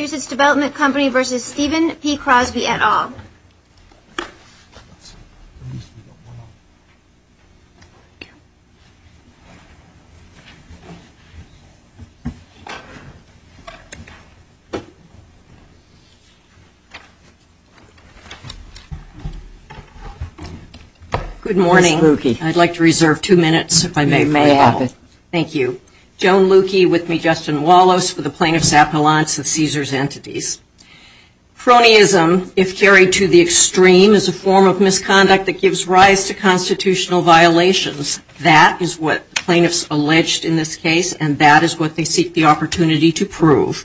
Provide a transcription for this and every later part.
Caesars Development Company v. Stephen P. Crosby, et al. Good morning. I'd like to reserve two minutes, if I may. Thank you. Joan Luky, with me, Justin Wallace, for the Cronyism, if carried to the extreme, is a form of misconduct that gives rise to constitutional violations. That is what the plaintiffs alleged in this case, and that is what they seek the opportunity to prove.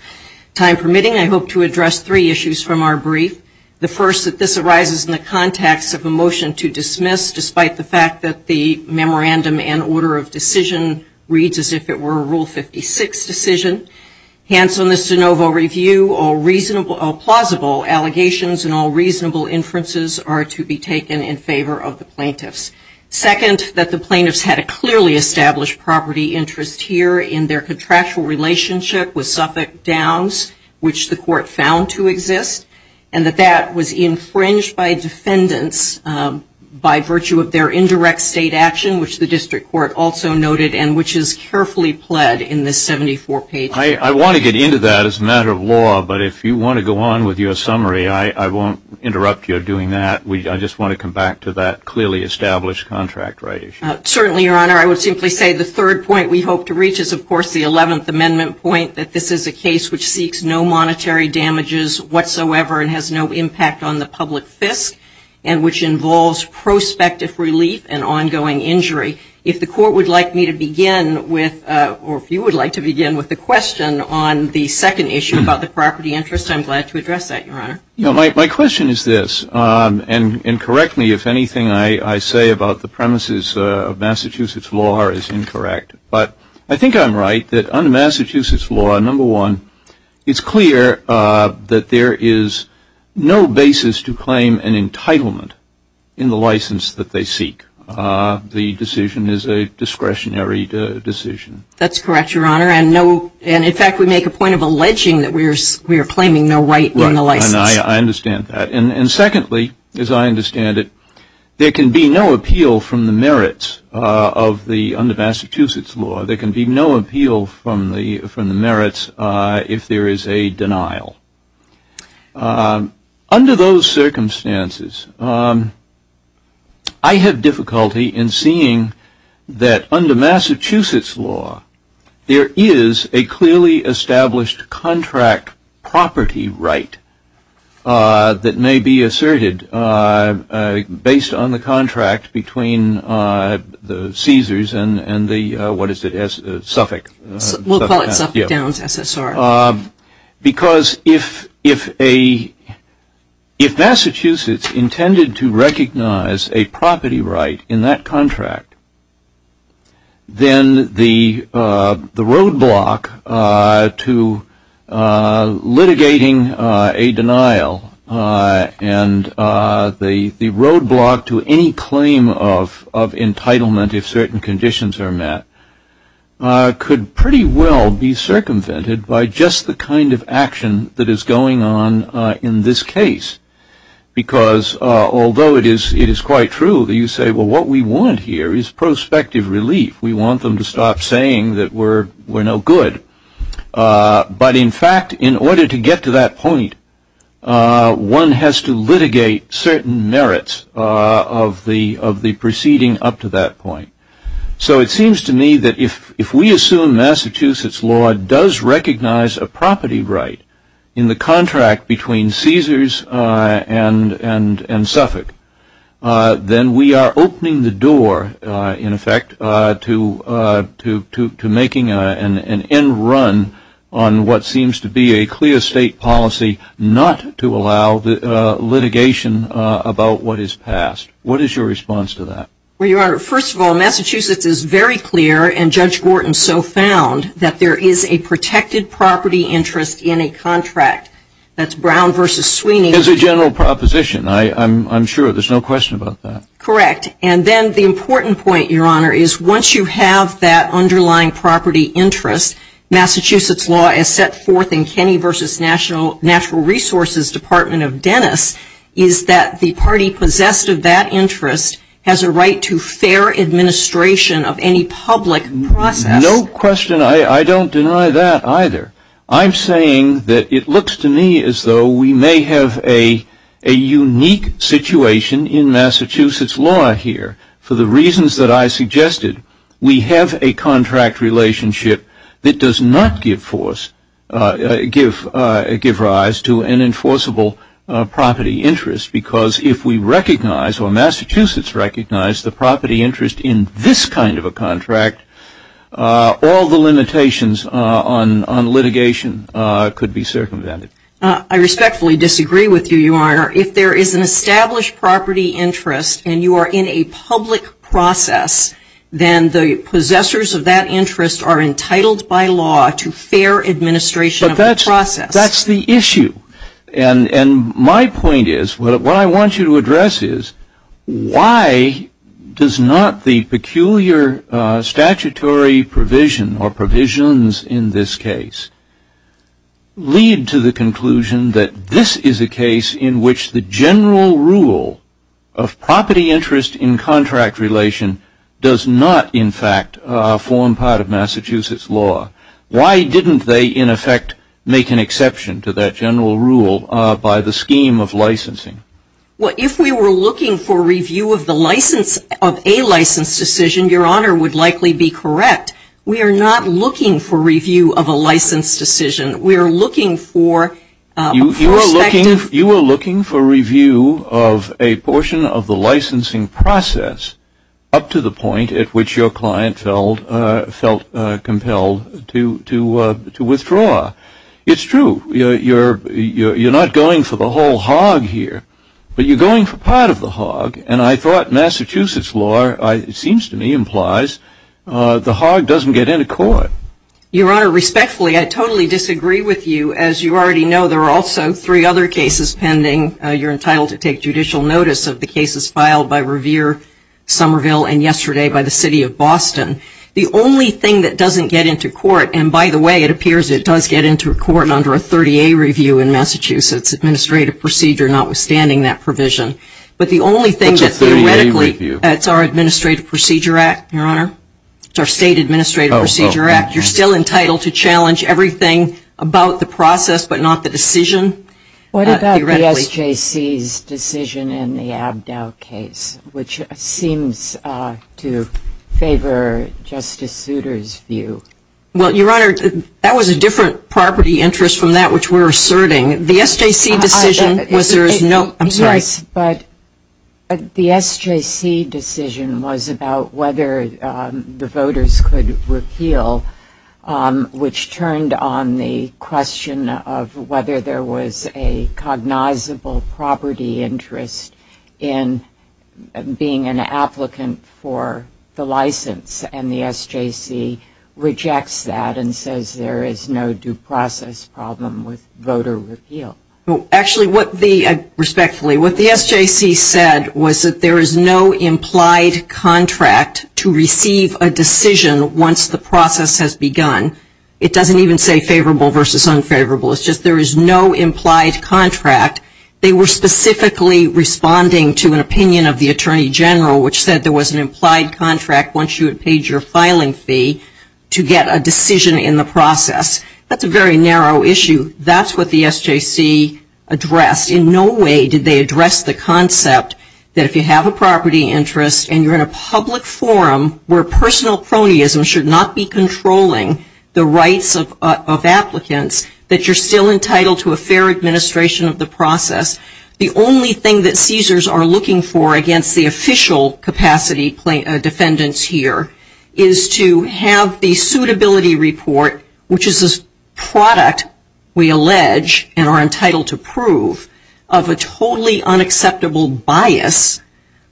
Time permitting, I hope to address three issues from our brief. The first, that this arises in the context of a motion to dismiss, despite the fact that the Memorandum and Order of Decision reads as if it were a Rule 56 decision. Hence, on this de novo review, all plausible allegations and all reasonable inferences are to be taken in favor of the plaintiffs. Second, that the plaintiffs had a clearly established property interest here in their contractual relationship with Suffolk Downs, which the court found to exist, and that that was infringed by defendants by virtue of their indirect state action, which the district court also noted, and which is carefully pled in this 74-page report. I want to get into that as a matter of law, but if you want to go on with your summary, I won't interrupt you doing that. I just want to come back to that clearly established contract right issue. Certainly, Your Honor. I would simply say the third point we hope to reach is, of course, the 11th Amendment point, that this is a case which seeks no monetary damages whatsoever and has no impact on the public fisc, and which involves prospective relief and ongoing injury. If the court would like me to begin with, or if you would like to begin with the question on the second issue about the property interest, I'm glad to address that, Your Honor. My question is this, and correct me if anything I say about the premises of Massachusetts law is incorrect, but I think I'm right that under Massachusetts law, number one, it's in the license that they seek. The decision is a discretionary decision. That's correct, Your Honor, and in fact, we make a point of alleging that we are claiming no right in the license. Right, and I understand that. And secondly, as I understand it, there can be no appeal from the merits of the Massachusetts law. There can be no appeal from the merits if there is a denial. Under those circumstances, I have difficulty in seeing that under Massachusetts law, there is a clearly established contract property right that may be asserted based on the contract between the Caesars and the, what is it, Suffolk. We'll call it Suffolk Downs SSR. Because if Massachusetts intended to recognize a property right in that contract, then the roadblock to litigating a denial and the roadblock to any claim of entitlement if certain conditions are met could pretty well be circumvented by just the kind of action that is going on in this case. Because although it is quite true that you say, well, what we want here is prospective relief. We want them to stop saying that we're no good. But in fact, in order to get to that point, one has to litigate certain merits of the proceeding up to that point. So it seems to me that if we assume Massachusetts law does recognize a property right in the contract between Caesars and Suffolk, then we are opening the door, in effect, to making an end run on what seems to be a clear state policy not to allow litigation about what is passed. What is your response to that? Well, Your Honor, first of all, Massachusetts is very clear, and Judge Gorton so found, that there is a protected property interest in a contract. That's Brown v. Sweeney. As a general proposition, I'm sure. There's no question about that. Correct. And then the important point, Your Honor, is once you have that underlying property interest, Massachusetts law is set forth in Kenny v. National Resources Department of Dennis, is that the party possessed of that interest has a right to fair administration of any public process. No question. I don't deny that either. I'm saying that it looks to me as though we may have a unique situation in Massachusetts law here for the reasons that I suggested. We have a contract relationship that does not give rise to an enforceable property interest, because if we recognize, or Massachusetts recognized the property interest in this kind of a contract, all the limitations on litigation could be circumvented. I respectfully disagree with you, Your Honor. If there is an established property interest and you are in a public process, then the possessors of that interest are entitled by law to fair administration of the process. That's the issue. And my point is, what I want you to address is, why does not the peculiar statutory provision or provisions in this case lead to the conclusion that this is a general rule of property interest in contract relation does not, in fact, form part of Massachusetts law? Why didn't they, in effect, make an exception to that general rule by the scheme of licensing? If we were looking for review of a license decision, Your Honor would likely be correct. We are not looking for review of a license decision. We are looking for perspective. You are looking for review of a portion of the licensing process up to the point at which your client felt compelled to withdraw. It's true. You're not going for the whole hog here, but you're going for part of the hog. And I thought Massachusetts law, it seems to me, implies the hog doesn't get into court. Your Honor, respectfully, I totally disagree with you. As you already know, there are also three other cases pending. You're entitled to take judicial notice of the cases filed by Revere, Somerville, and yesterday by the City of Boston. The only thing that doesn't get into court, and by the way, it appears it does get into court under a 30-A review in Massachusetts Administrative Procedure, notwithstanding that provision. But the only thing that theoretically, it's our Administrative Procedure Act, Your Honor. It's our State Administrative Procedure Act. You're still entitled to challenge everything about the process, but not the decision theoretically. What about the SJC's decision in the Abdao case, which seems to favor Justice Souter's view? Well, Your Honor, that was a different property interest from that which we're asserting. The SJC decision was there's no – I'm sorry. Yes, but the SJC decision was about whether the voters could repeal, which turned on the question of whether there was a cognizable property interest in being an applicant for the license, and the SJC rejects that and says there is no due process problem with voter repeal. Actually, what the – respectfully, what the SJC said was that there is no implied contract to receive a decision once the process has begun. It doesn't even say favorable versus unfavorable. It's just there is no implied contract. They were specifically responding to an opinion of the Attorney General, which said there was an implied contract once you had paid your filing fee to get a decision in the process. That's a very narrow issue. That's what the SJC addressed. In no way did they address the concept that if you have a property interest and you're in a public forum where personal cronyism should not be controlling the rights of applicants, that you're still entitled to a fair administration of the process. The only thing that CSERs are looking for against the official capacity defendants here is to have the suitability report, which is a product, we allege, and are entitled to acceptable bias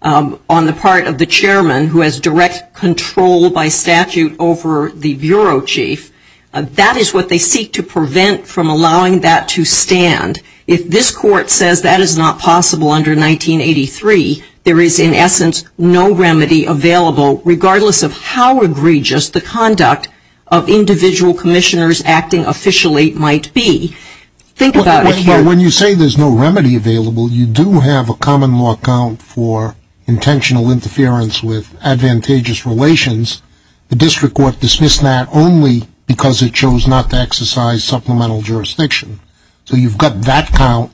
on the part of the chairman who has direct control by statute over the bureau chief. That is what they seek to prevent from allowing that to stand. If this court says that is not possible under 1983, there is in essence no remedy available regardless of how egregious the conduct of individual commissioners acting officially might be. When you say there's no remedy available, you do have a common law count for intentional interference with advantageous relations. The district court dismissed that only because it chose not to exercise supplemental jurisdiction. So you've got that count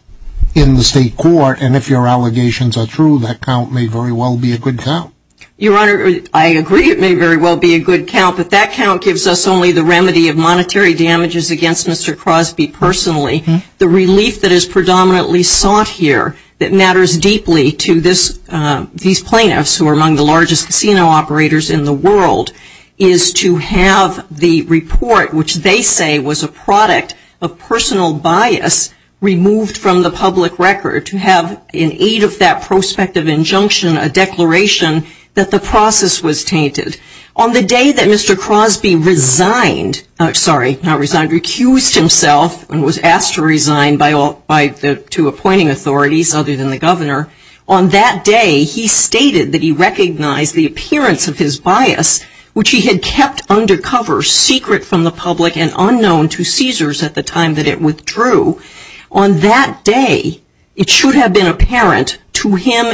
in the state court and if your allegations are true, that count may very well be a good count. Your Honor, I agree it may very well be a good count, but that count gives us only the relief that is predominantly sought here that matters deeply to these plaintiffs who are among the largest casino operators in the world, is to have the report, which they say was a product of personal bias, removed from the public record to have in aid of that prospective injunction a declaration that the process was tainted. On the day that Mr. Crosby resigned, sorry, not resigned, recused himself and was asked to resign to appointing authorities other than the governor, on that day he stated that he recognized the appearance of his bias which he had kept undercover, secret from the public and unknown to Caesars at the time that it withdrew. On that day, it should have been overseen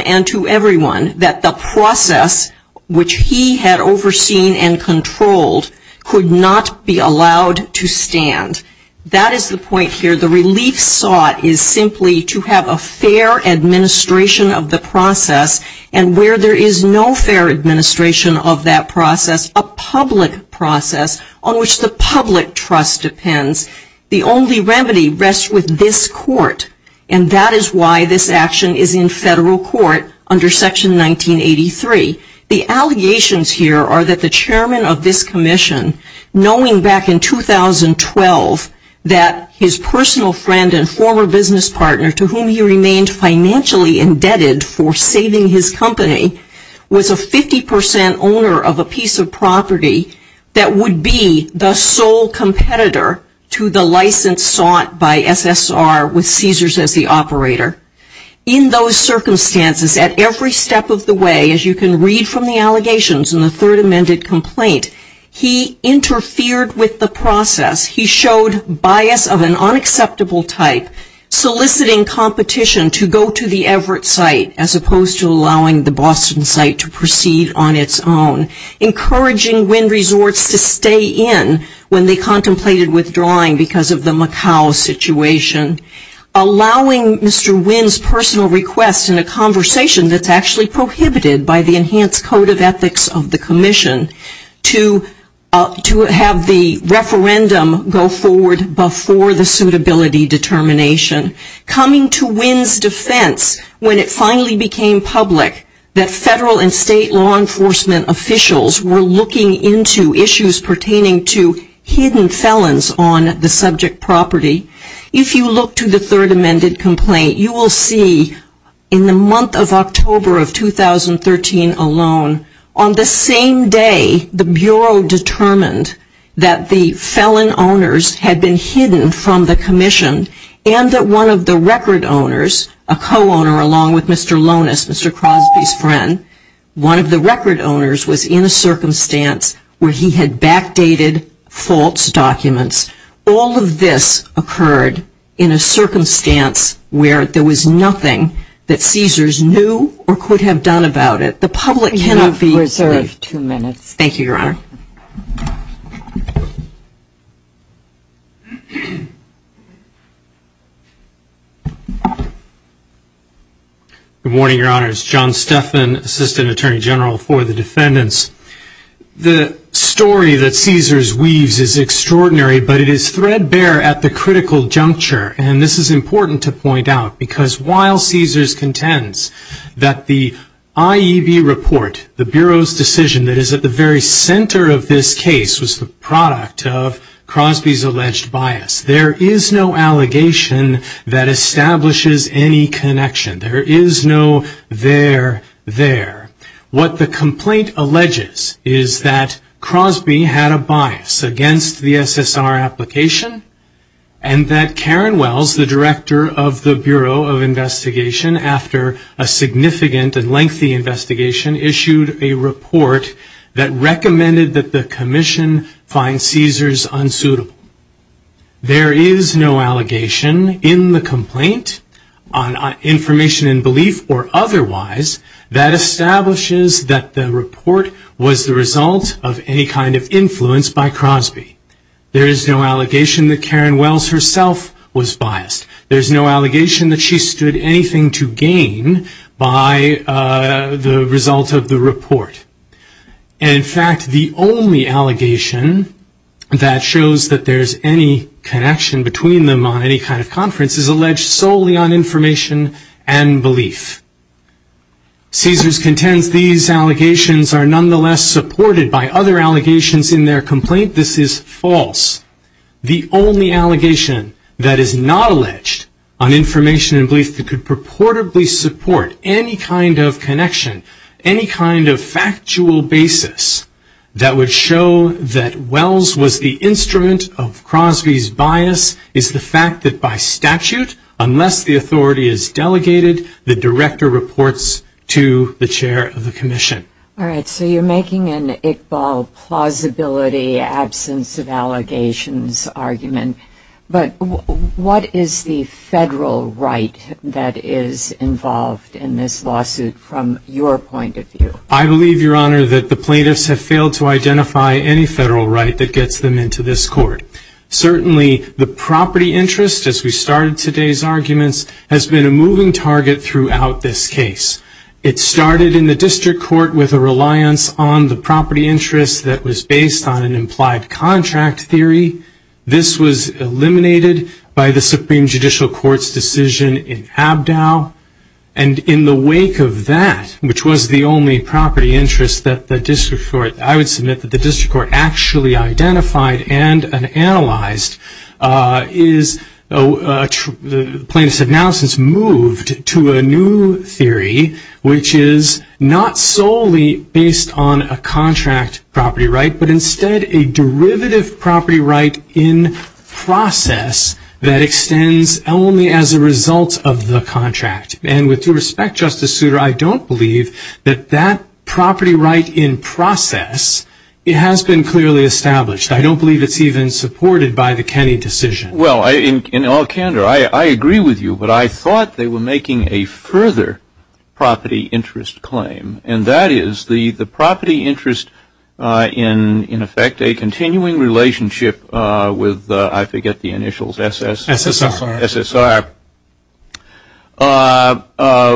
and controlled, could not be allowed to stand. That is the point here. The relief sought is simply to have a fair administration of the process and where there is no fair administration of that process, a public process on which the public trust depends. The only remedy rests with this court and that is why this action is in federal court under Section 1983. The allegations here are that the chairman of this commission, knowing back in 2012 that his personal friend and former business partner to whom he remained financially indebted for saving his company, was a 50% owner of a piece of property that would be the sole competitor to the license sought by SSR with Caesars as the operator. In those circumstances, at every step of the way, as you can read from the allegations in the third amended complaint, he interfered with the process. He showed bias of an unacceptable type, soliciting competition to go to the Everett site as opposed to allowing the Boston site to proceed on its own, encouraging Wynn Resorts to stay in when they contemplated withdrawing because of the Macau situation, allowing Mr. Wynn's personal request in a conversation that's actually prohibited by the Enhanced Code of Ethics of the commission to have the referendum go forward before the suitability determination, coming to Wynn's defense when it finally became public that federal and state law enforcement officials were looking into issues pertaining to hidden evidence. If you look to the third amended complaint, you will see in the month of October of 2013 alone, on the same day the Bureau determined that the felon owners had been hidden from the commission and that one of the record owners, a co-owner along with Mr. Lonis, Mr. Crosby's friend, one of the record owners was in a circumstance where he had backdated false documents. All of this occurred in a circumstance where there was nothing that Caesars knew or could have done about it. The public cannot be... We have reserved two minutes. Thank you, Your Honor. Good morning, Your Honors. John Steffan, Assistant Attorney General for the Defendants. The story that Caesars weaves is extraordinary, but it is threadbare at the critical juncture, and this is important to point out, because while Caesars contends that the IEB report, the Bureau's decision that is at the very center of this case, was the product of Crosby's alleged bias, there is no allegation that establishes any connection. There is no there-there. What the complaint alleges is that Crosby had a bias against the SSR application and that Karen Wells, the Director of the Bureau of Investigation, after a significant and lengthy investigation, issued a report that recommended that the commission find Caesars unsuitable. There is no allegation in the complaint on information and belief or otherwise that establishes that the report was the result of any kind of influence by Crosby. There is no allegation that Karen Wells herself was biased. There is no allegation that she stood anything to gain by the result of the report. In fact, the only allegation that shows that there is any connection between them on any kind of conference is alleged solely on information and belief. Caesars contends these allegations are nonetheless supported by other allegations in their complaint. This is false. The only allegation that is not alleged on information and belief that could purportedly support any kind of connection, any kind of factual basis that would show that Wells was the instrument of Crosby's investigation, is the fact that by statute, unless the authority is delegated, the Director reports to the Chair of the Commission. All right, so you're making an Iqbal plausibility absence of allegations argument, but what is the federal right that is involved in this lawsuit from your point of view? I believe, Your Honor, that the plaintiffs have failed to identify any federal right that gets them into this court. Certainly, the property interest, as we started today's arguments, has been a moving target throughout this case. It started in the District Court with a reliance on the property interest that was based on an implied contract theory. This was eliminated by the Supreme Judicial Court's decision in Abdow, and in the wake of that, which was the only property interest that the District Court, I would submit that the court identified and analyzed, the plaintiffs have now since moved to a new theory, which is not solely based on a contract property right, but instead a derivative property right in process that extends only as a result of the contract. And with due respect, Justice Breyer, in the process, it has been clearly established. I don't believe it's even supported by the Kenney decision. Well, in all candor, I agree with you, but I thought they were making a further property interest claim, and that is the property interest in effect a continuing relationship with, I forget the initials, SSR,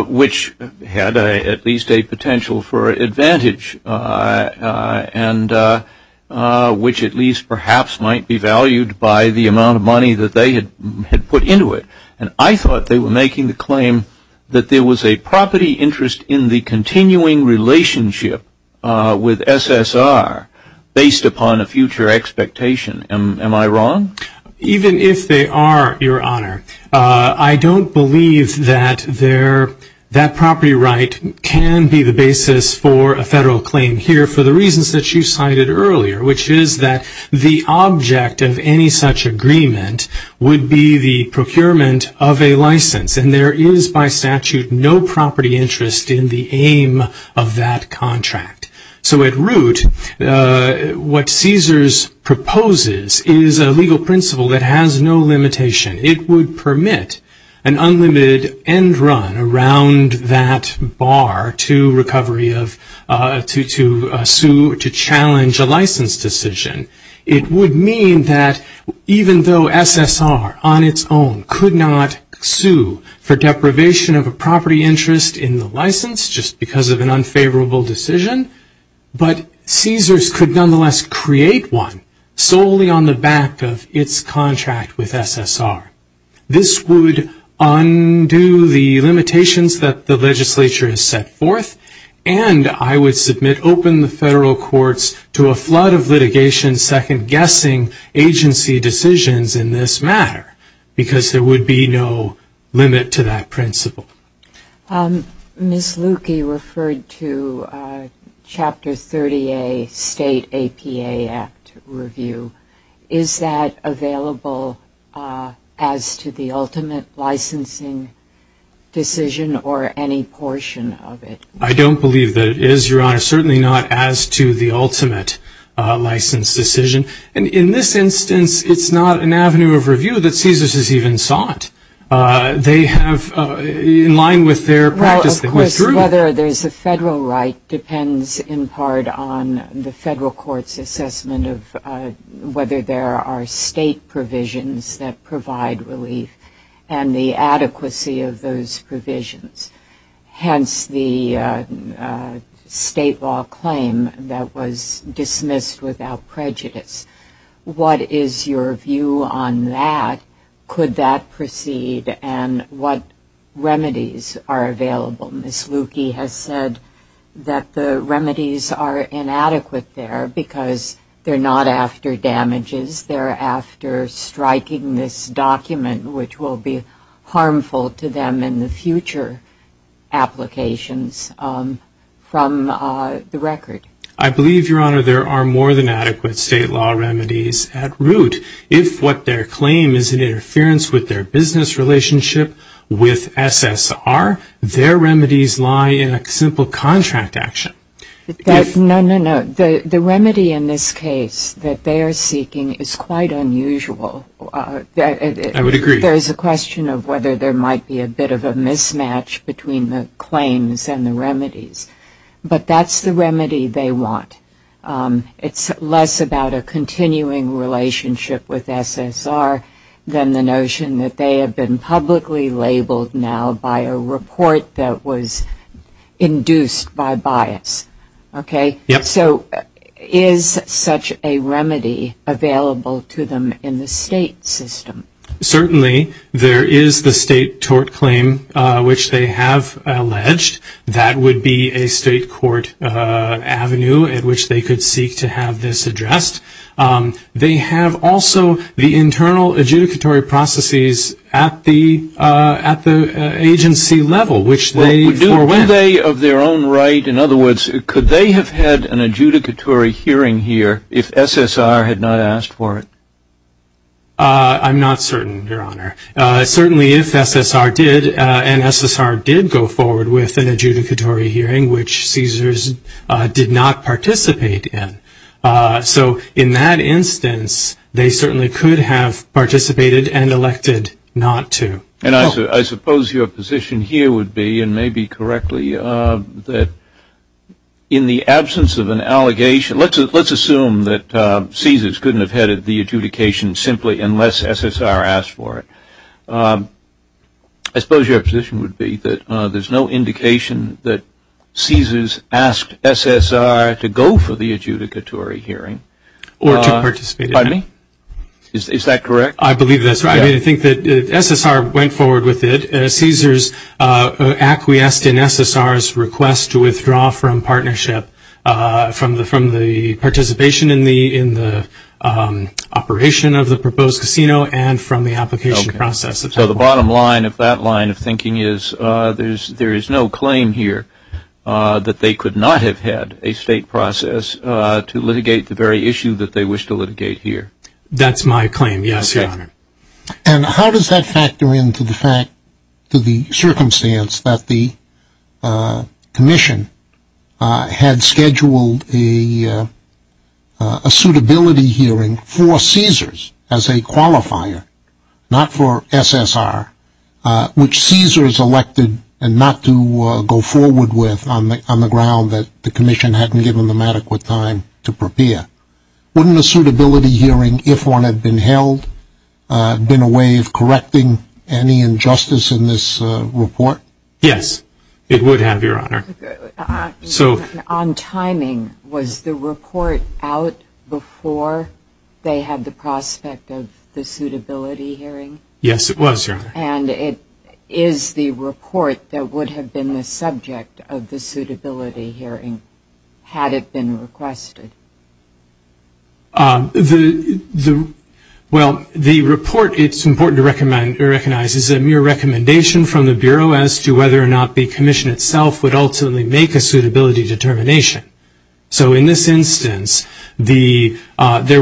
which had at least a potential for advantage in the case of the case, and which at least perhaps might be valued by the amount of money that they had put into it. And I thought they were making the claim that there was a property interest in the continuing relationship with SSR based upon a future expectation. Am I wrong? Even if they are, Your Honor, I don't believe that that property right can be the basis for a federal claim here for the reasons that you cited earlier, which is that the object of any such agreement would be the procurement of a license, and there is by statute no property interest in the aim of that contract. So at root, what Caesars proposes is a legal principle that has no limitation. It would permit an unlimited end run around that bar to recovery of, to sue, to challenge a license decision. It would mean that even though SSR on its own could not sue for deprivation of a property interest in the license just because of an unfavorable decision, but Caesars could nonetheless create one solely on the back of its contract with SSR. This would undo the limitations that the legislature has set forth, and it the statute. In the end, I would submit open the federal courts to a flood of litigation second-guessing agency decisions in this matter, because there would be no limit to that principle. Ms. Lukey referred to Chapter 30A State APA Act review. Is that available as to the ultimate license decision? And in this instance, it's not an avenue of review that Caesars has even sought. They have, in line with their practice, they went through. Well, of course, whether there's a federal right depends in part on the federal court's assessment of whether there are state provisions that provide relief and the adequacy of those provisions. Hence the state law claim that was dismissed without prejudice. What is your view on that? Could that proceed? And what remedies are available? Ms. Lukey has said that the remedies are inadequate there because they're not after damages. They're after striking this document, which will be harmful to them in the future applications from the record. I believe, Your Honor, there are more than adequate state law remedies at root. If what their claim is an interference with their business relationship with SSR, their remedies lie in a simple contract action. No, no, no. The remedy in this case that they are seeking is quite unusual. I would agree. There is a question of whether there might be a bit of a mismatch between the claims and the remedies. But that's the remedy they want. It's less about a continuing relationship with SSR than the notion that they have been publicly labeled now by a report that was issued. Okay? So is such a remedy available to them in the state system? Certainly. There is the state tort claim, which they have alleged. That would be a state court avenue at which they could seek to have this addressed. They have also the internal adjudicatory processes at the agency level, which they forewent. Are they of their own right, in other words, could they have had an adjudicatory hearing here if SSR had not asked for it? I'm not certain, Your Honor. Certainly if SSR did, and SSR did go forward with an adjudicatory hearing, which CSRS did not participate in. So in that instance, they certainly could have participated and elected not to. And I suppose your position here would be, and may be correctly, that in the absence of an allegation, let's assume that CSRS couldn't have headed the adjudication simply unless SSR asked for it. I suppose your position would be that there's no indication that CSRS asked SSR to go for the adjudicatory hearing. Or to participate in it. Pardon me? Is that correct? I believe that's right. I think that SSR went forward with it. CSRS acquiesced in SSR's request to withdraw from partnership from the participation in the operation of the proposed casino and from the application process. So the bottom line of that line of thinking is there is no claim here that they could not have had a state process to litigate the very issue that they wish to litigate here. That's my claim, yes, your honor. And how does that factor into the fact, to the circumstance that the commission had scheduled a suitability hearing for CSRS as a qualifier, not for SSR, which CSRS elected not to go forward with on the ground that the commission hadn't given them adequate time to prepare. Wouldn't a suitability hearing, if one had been held, have been a way of correcting any injustice in this report? Yes, it would have, your honor. On timing, was the report out before they had the prospect of the suitability hearing? Yes, it was, your honor. And is the report that would have been the subject of the suitability hearing, had it been requested? Well, the report, it's important to recognize, is a mere recommendation from the Bureau as to whether or not the commission itself would ultimately make a suitability determination. So in this instance, there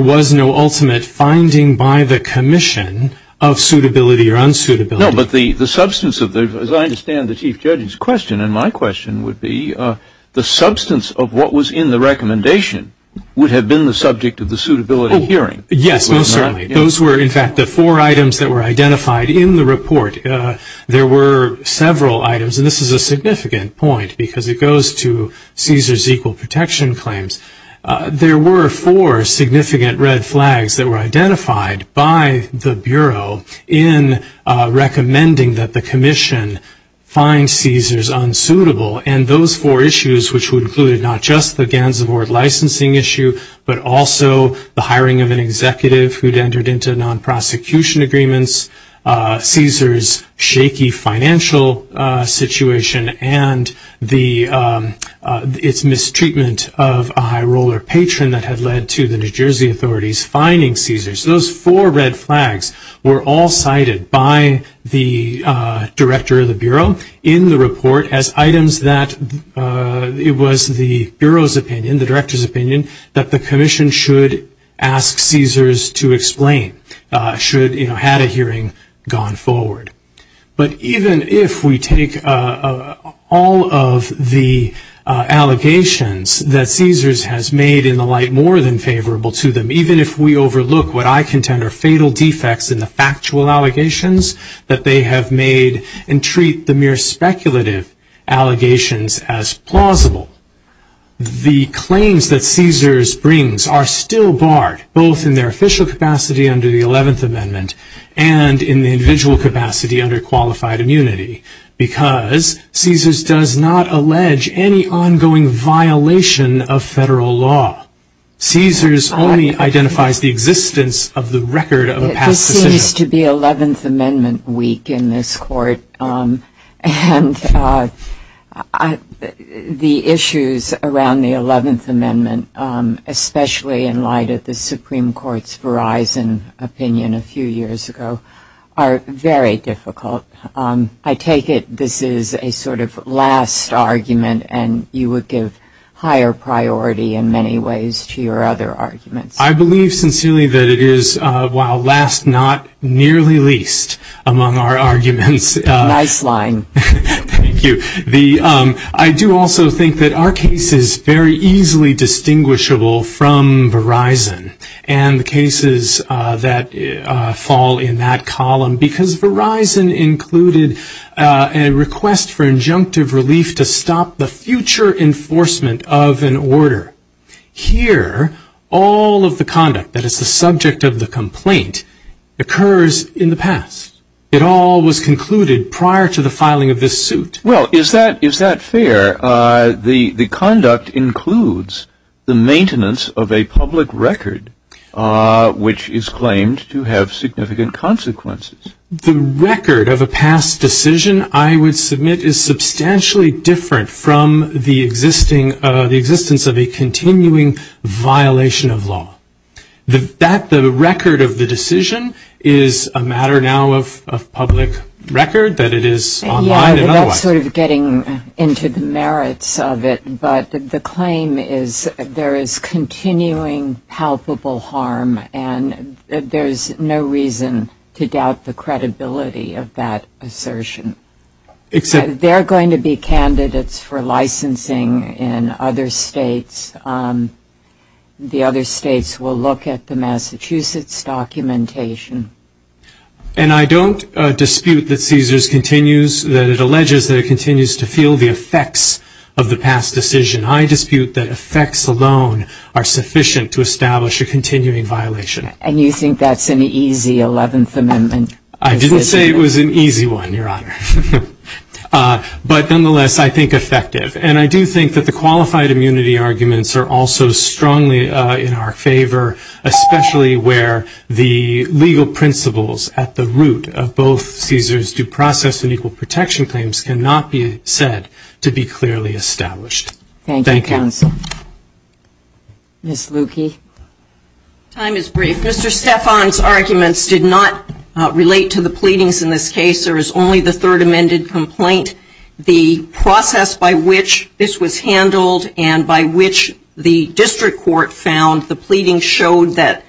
was no ultimate finding by the commission of suitability or unsuitability. No, but the substance of the, as I understand the Chief Judge's question, and my question would be, the substance of what was in the recommendation would have been the subject of the suitability hearing. Yes, most certainly. Those were, in fact, the four items that were identified in the report. There were several items, and this is a significant point, because it goes to CSRS equal protection claims. There were four significant red flags that were identified by the Bureau in recommending that the commission find CSRS unsuitable. And those four issues, which would include not just the Gansevoort licensing issue, but also the hiring of an executive who'd entered into non-prosecution agreements, CSRS' shaky financial situation, and its mistreatment of a high-roller patron that had led to the New Jersey authorities fining CSRS. Those four red flags were all cited by the Director of the Bureau in the report as items that, it was the Bureau's opinion, the Director's opinion, that the commission should ask CSRS to explain, should, you know, had a hearing gone forward. But even if we take all of the allegations that CSRS has made in the light more than favorable to them, even if we overlook what I contend are fatal defects in the factual allegations that they have made and treat the mere speculative allegations as plausible, the claims that CSRS brings are still barred, both in their official capacity under the 11th Amendment and in the individual capacity under qualified immunity, because CSRS does not allege any ongoing violation of federal law. CSRS only identifies the existence of the record of a past decision. This seems to be 11th Amendment week in this court, and the issues around the 11th Amendment, especially in light of the Supreme Court's Verizon opinion a few years ago, are very difficult. I take it this is a sort of last argument, and you would give higher priority in many ways to the Supreme Court's argument. I believe sincerely that it is, while last, not nearly least among our arguments. Nice line. Thank you. I do also think that our case is very easily distinguishable from Verizon and the cases that fall in that column, because Verizon included a request for injunctive relief to stop the future enforcement of an order. And here, all of the conduct that is the subject of the complaint occurs in the past. It all was concluded prior to the filing of this suit. Well, is that fair? The conduct includes the maintenance of a public record, which is claimed to have significant consequences. The record of a past decision, I would submit, is substantially different from the existence of a continuing violation of law. The record of the decision is a matter now of public record, that it is online and otherwise. Yeah, that's sort of getting into the merits of it. But the claim is there is continuing palpable harm, and there's no reason to doubt the credibility of that assertion. They're going to be candidates for licensing in other states. The other states will look at the Massachusetts documentation. And I don't dispute that Caesars continues, that it alleges that it continues to feel the effects of the past decision. I dispute that effects alone are sufficient to establish a continuing violation. And you think that's an easy 11th Amendment? I didn't say it was an easy one, Your Honor. But nonetheless, I think effective. And I do think that the qualified immunity arguments are also strongly in our favor, especially where the legal principles at the root of both Caesars due process and equal protection claims cannot be said to be clearly established. Thank you, counsel. Ms. Luecke. Time is brief. Mr. Stefan's arguments did not relate to the pleadings in this case. There is only the Third Amended Complaint. The process by which this was handled and by which the district court found the pleading showed that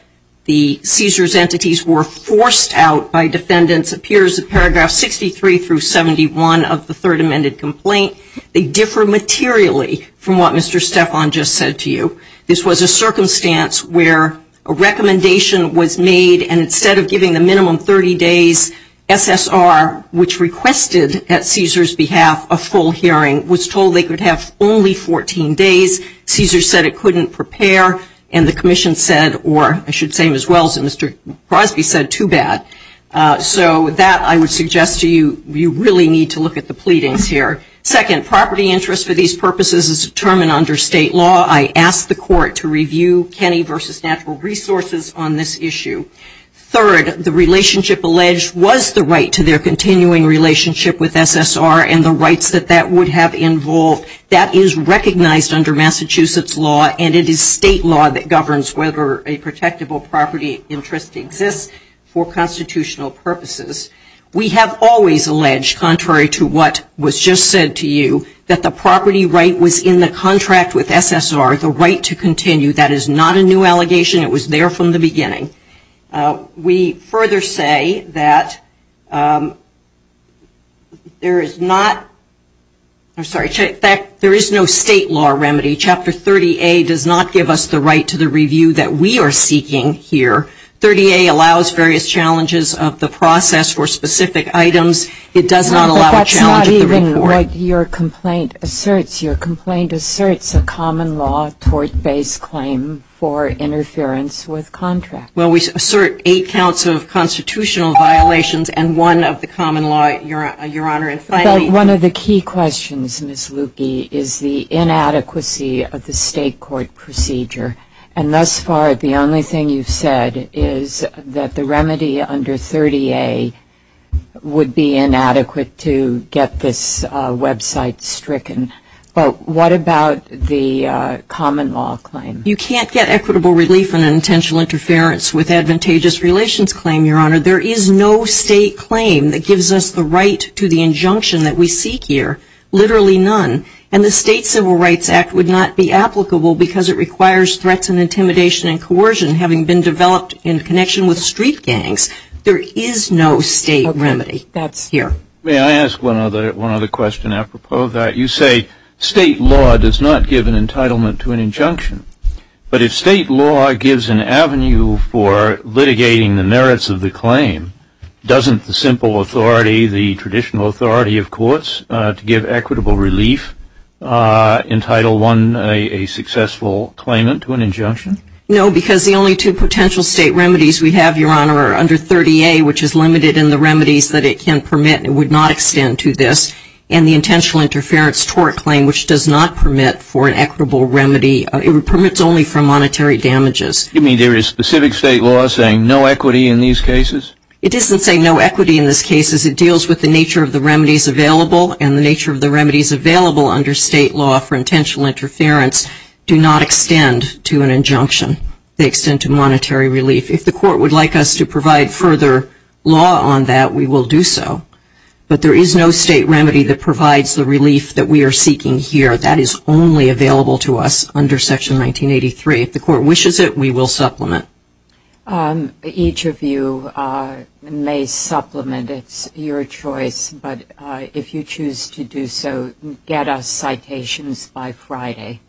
the Caesars entities were forced out by defendants appears in paragraph 63 through 71 of the Third Amended Complaint. They differ materially from what Mr. Stefan just said to you. This was a circumstance where a recommendation was made and instead of giving the minimum 30 days SSR, which requested at Caesars behalf a full hearing, was told they could have only 14 days. Caesars said it couldn't prepare and the commission said, or I should say as well as Mr. Crosby said, too bad. So that I would suggest to you, you really need to look at the pleadings here. Second, property interest for these purposes is determined under state law. I asked the court to review Kenny v. Natural Resources on this issue. Third, the relationship alleged was the right to their continuing relationship with SSR and the rights that that would have involved. That is recognized under Massachusetts law and it is state law that governs whether a protectable property interest exists for constitutional reasons. We have always alleged, contrary to what was just said to you, that the property right was in the contract with SSR, the right to continue. That is not a new allegation. It was there from the beginning. We further say that there is no state law remedy. Chapter 30A does not give us the right to the review that we are seeking here. 30A allows various challenges of the process for specific items. It does not allow a challenge of the report. But that's not even what your complaint asserts. Your complaint asserts a common law tort-based claim for interference with contract. Well, we assert eight counts of constitutional violations and one of the common law, Your Honor. One of the key questions, Ms. Lukey, is the inadequacy of the state court procedure. And thus far, the only thing you've said is that the remedy under 30A would be inadequate to get this website stricken. But what about the common law claim? You can't get equitable relief on an intentional interference with advantageous relations claim, Your Honor. There is no state claim that gives us the right to the injunction that we seek here. Literally none. And the State Civil Rights Act would not be applicable because it requires threats and intimidation and coercion having been developed in connection with street gangs. There is no state remedy here. May I ask one other question apropos of that? You say state law does not give an entitlement to an injunction. But if state law gives an avenue for litigating the merits of the claim, doesn't the simple authority, the traditional authority of courts, to give equitable relief entitle one a successful claimant to an injunction? No, because the only two potential state remedies we have, Your Honor, are under 30A, which is limited in the remedies that it can permit and would not extend to this, and the intentional interference tort claim, which does not permit for an equitable remedy. It permits only for monetary damages. You mean there is specific state law saying no equity in these cases? It doesn't say no equity in these cases. It deals with the nature of the remedies available and the nature of the remedies available under state law for intentional interference do not extend to an injunction. They extend to monetary relief. If the court would like us to provide further law on that, we will do so. But there is no state remedy that provides the relief that we are seeking here. That is only available to us under Section 1983. If the court wishes it, we will supplement. Each of you may supplement. It's your choice, but if you choose to do so, get us citations by Friday.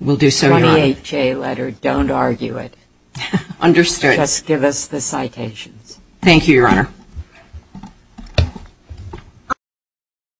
We'll do so, Your Honor. 28J letter. Don't argue it. Understood.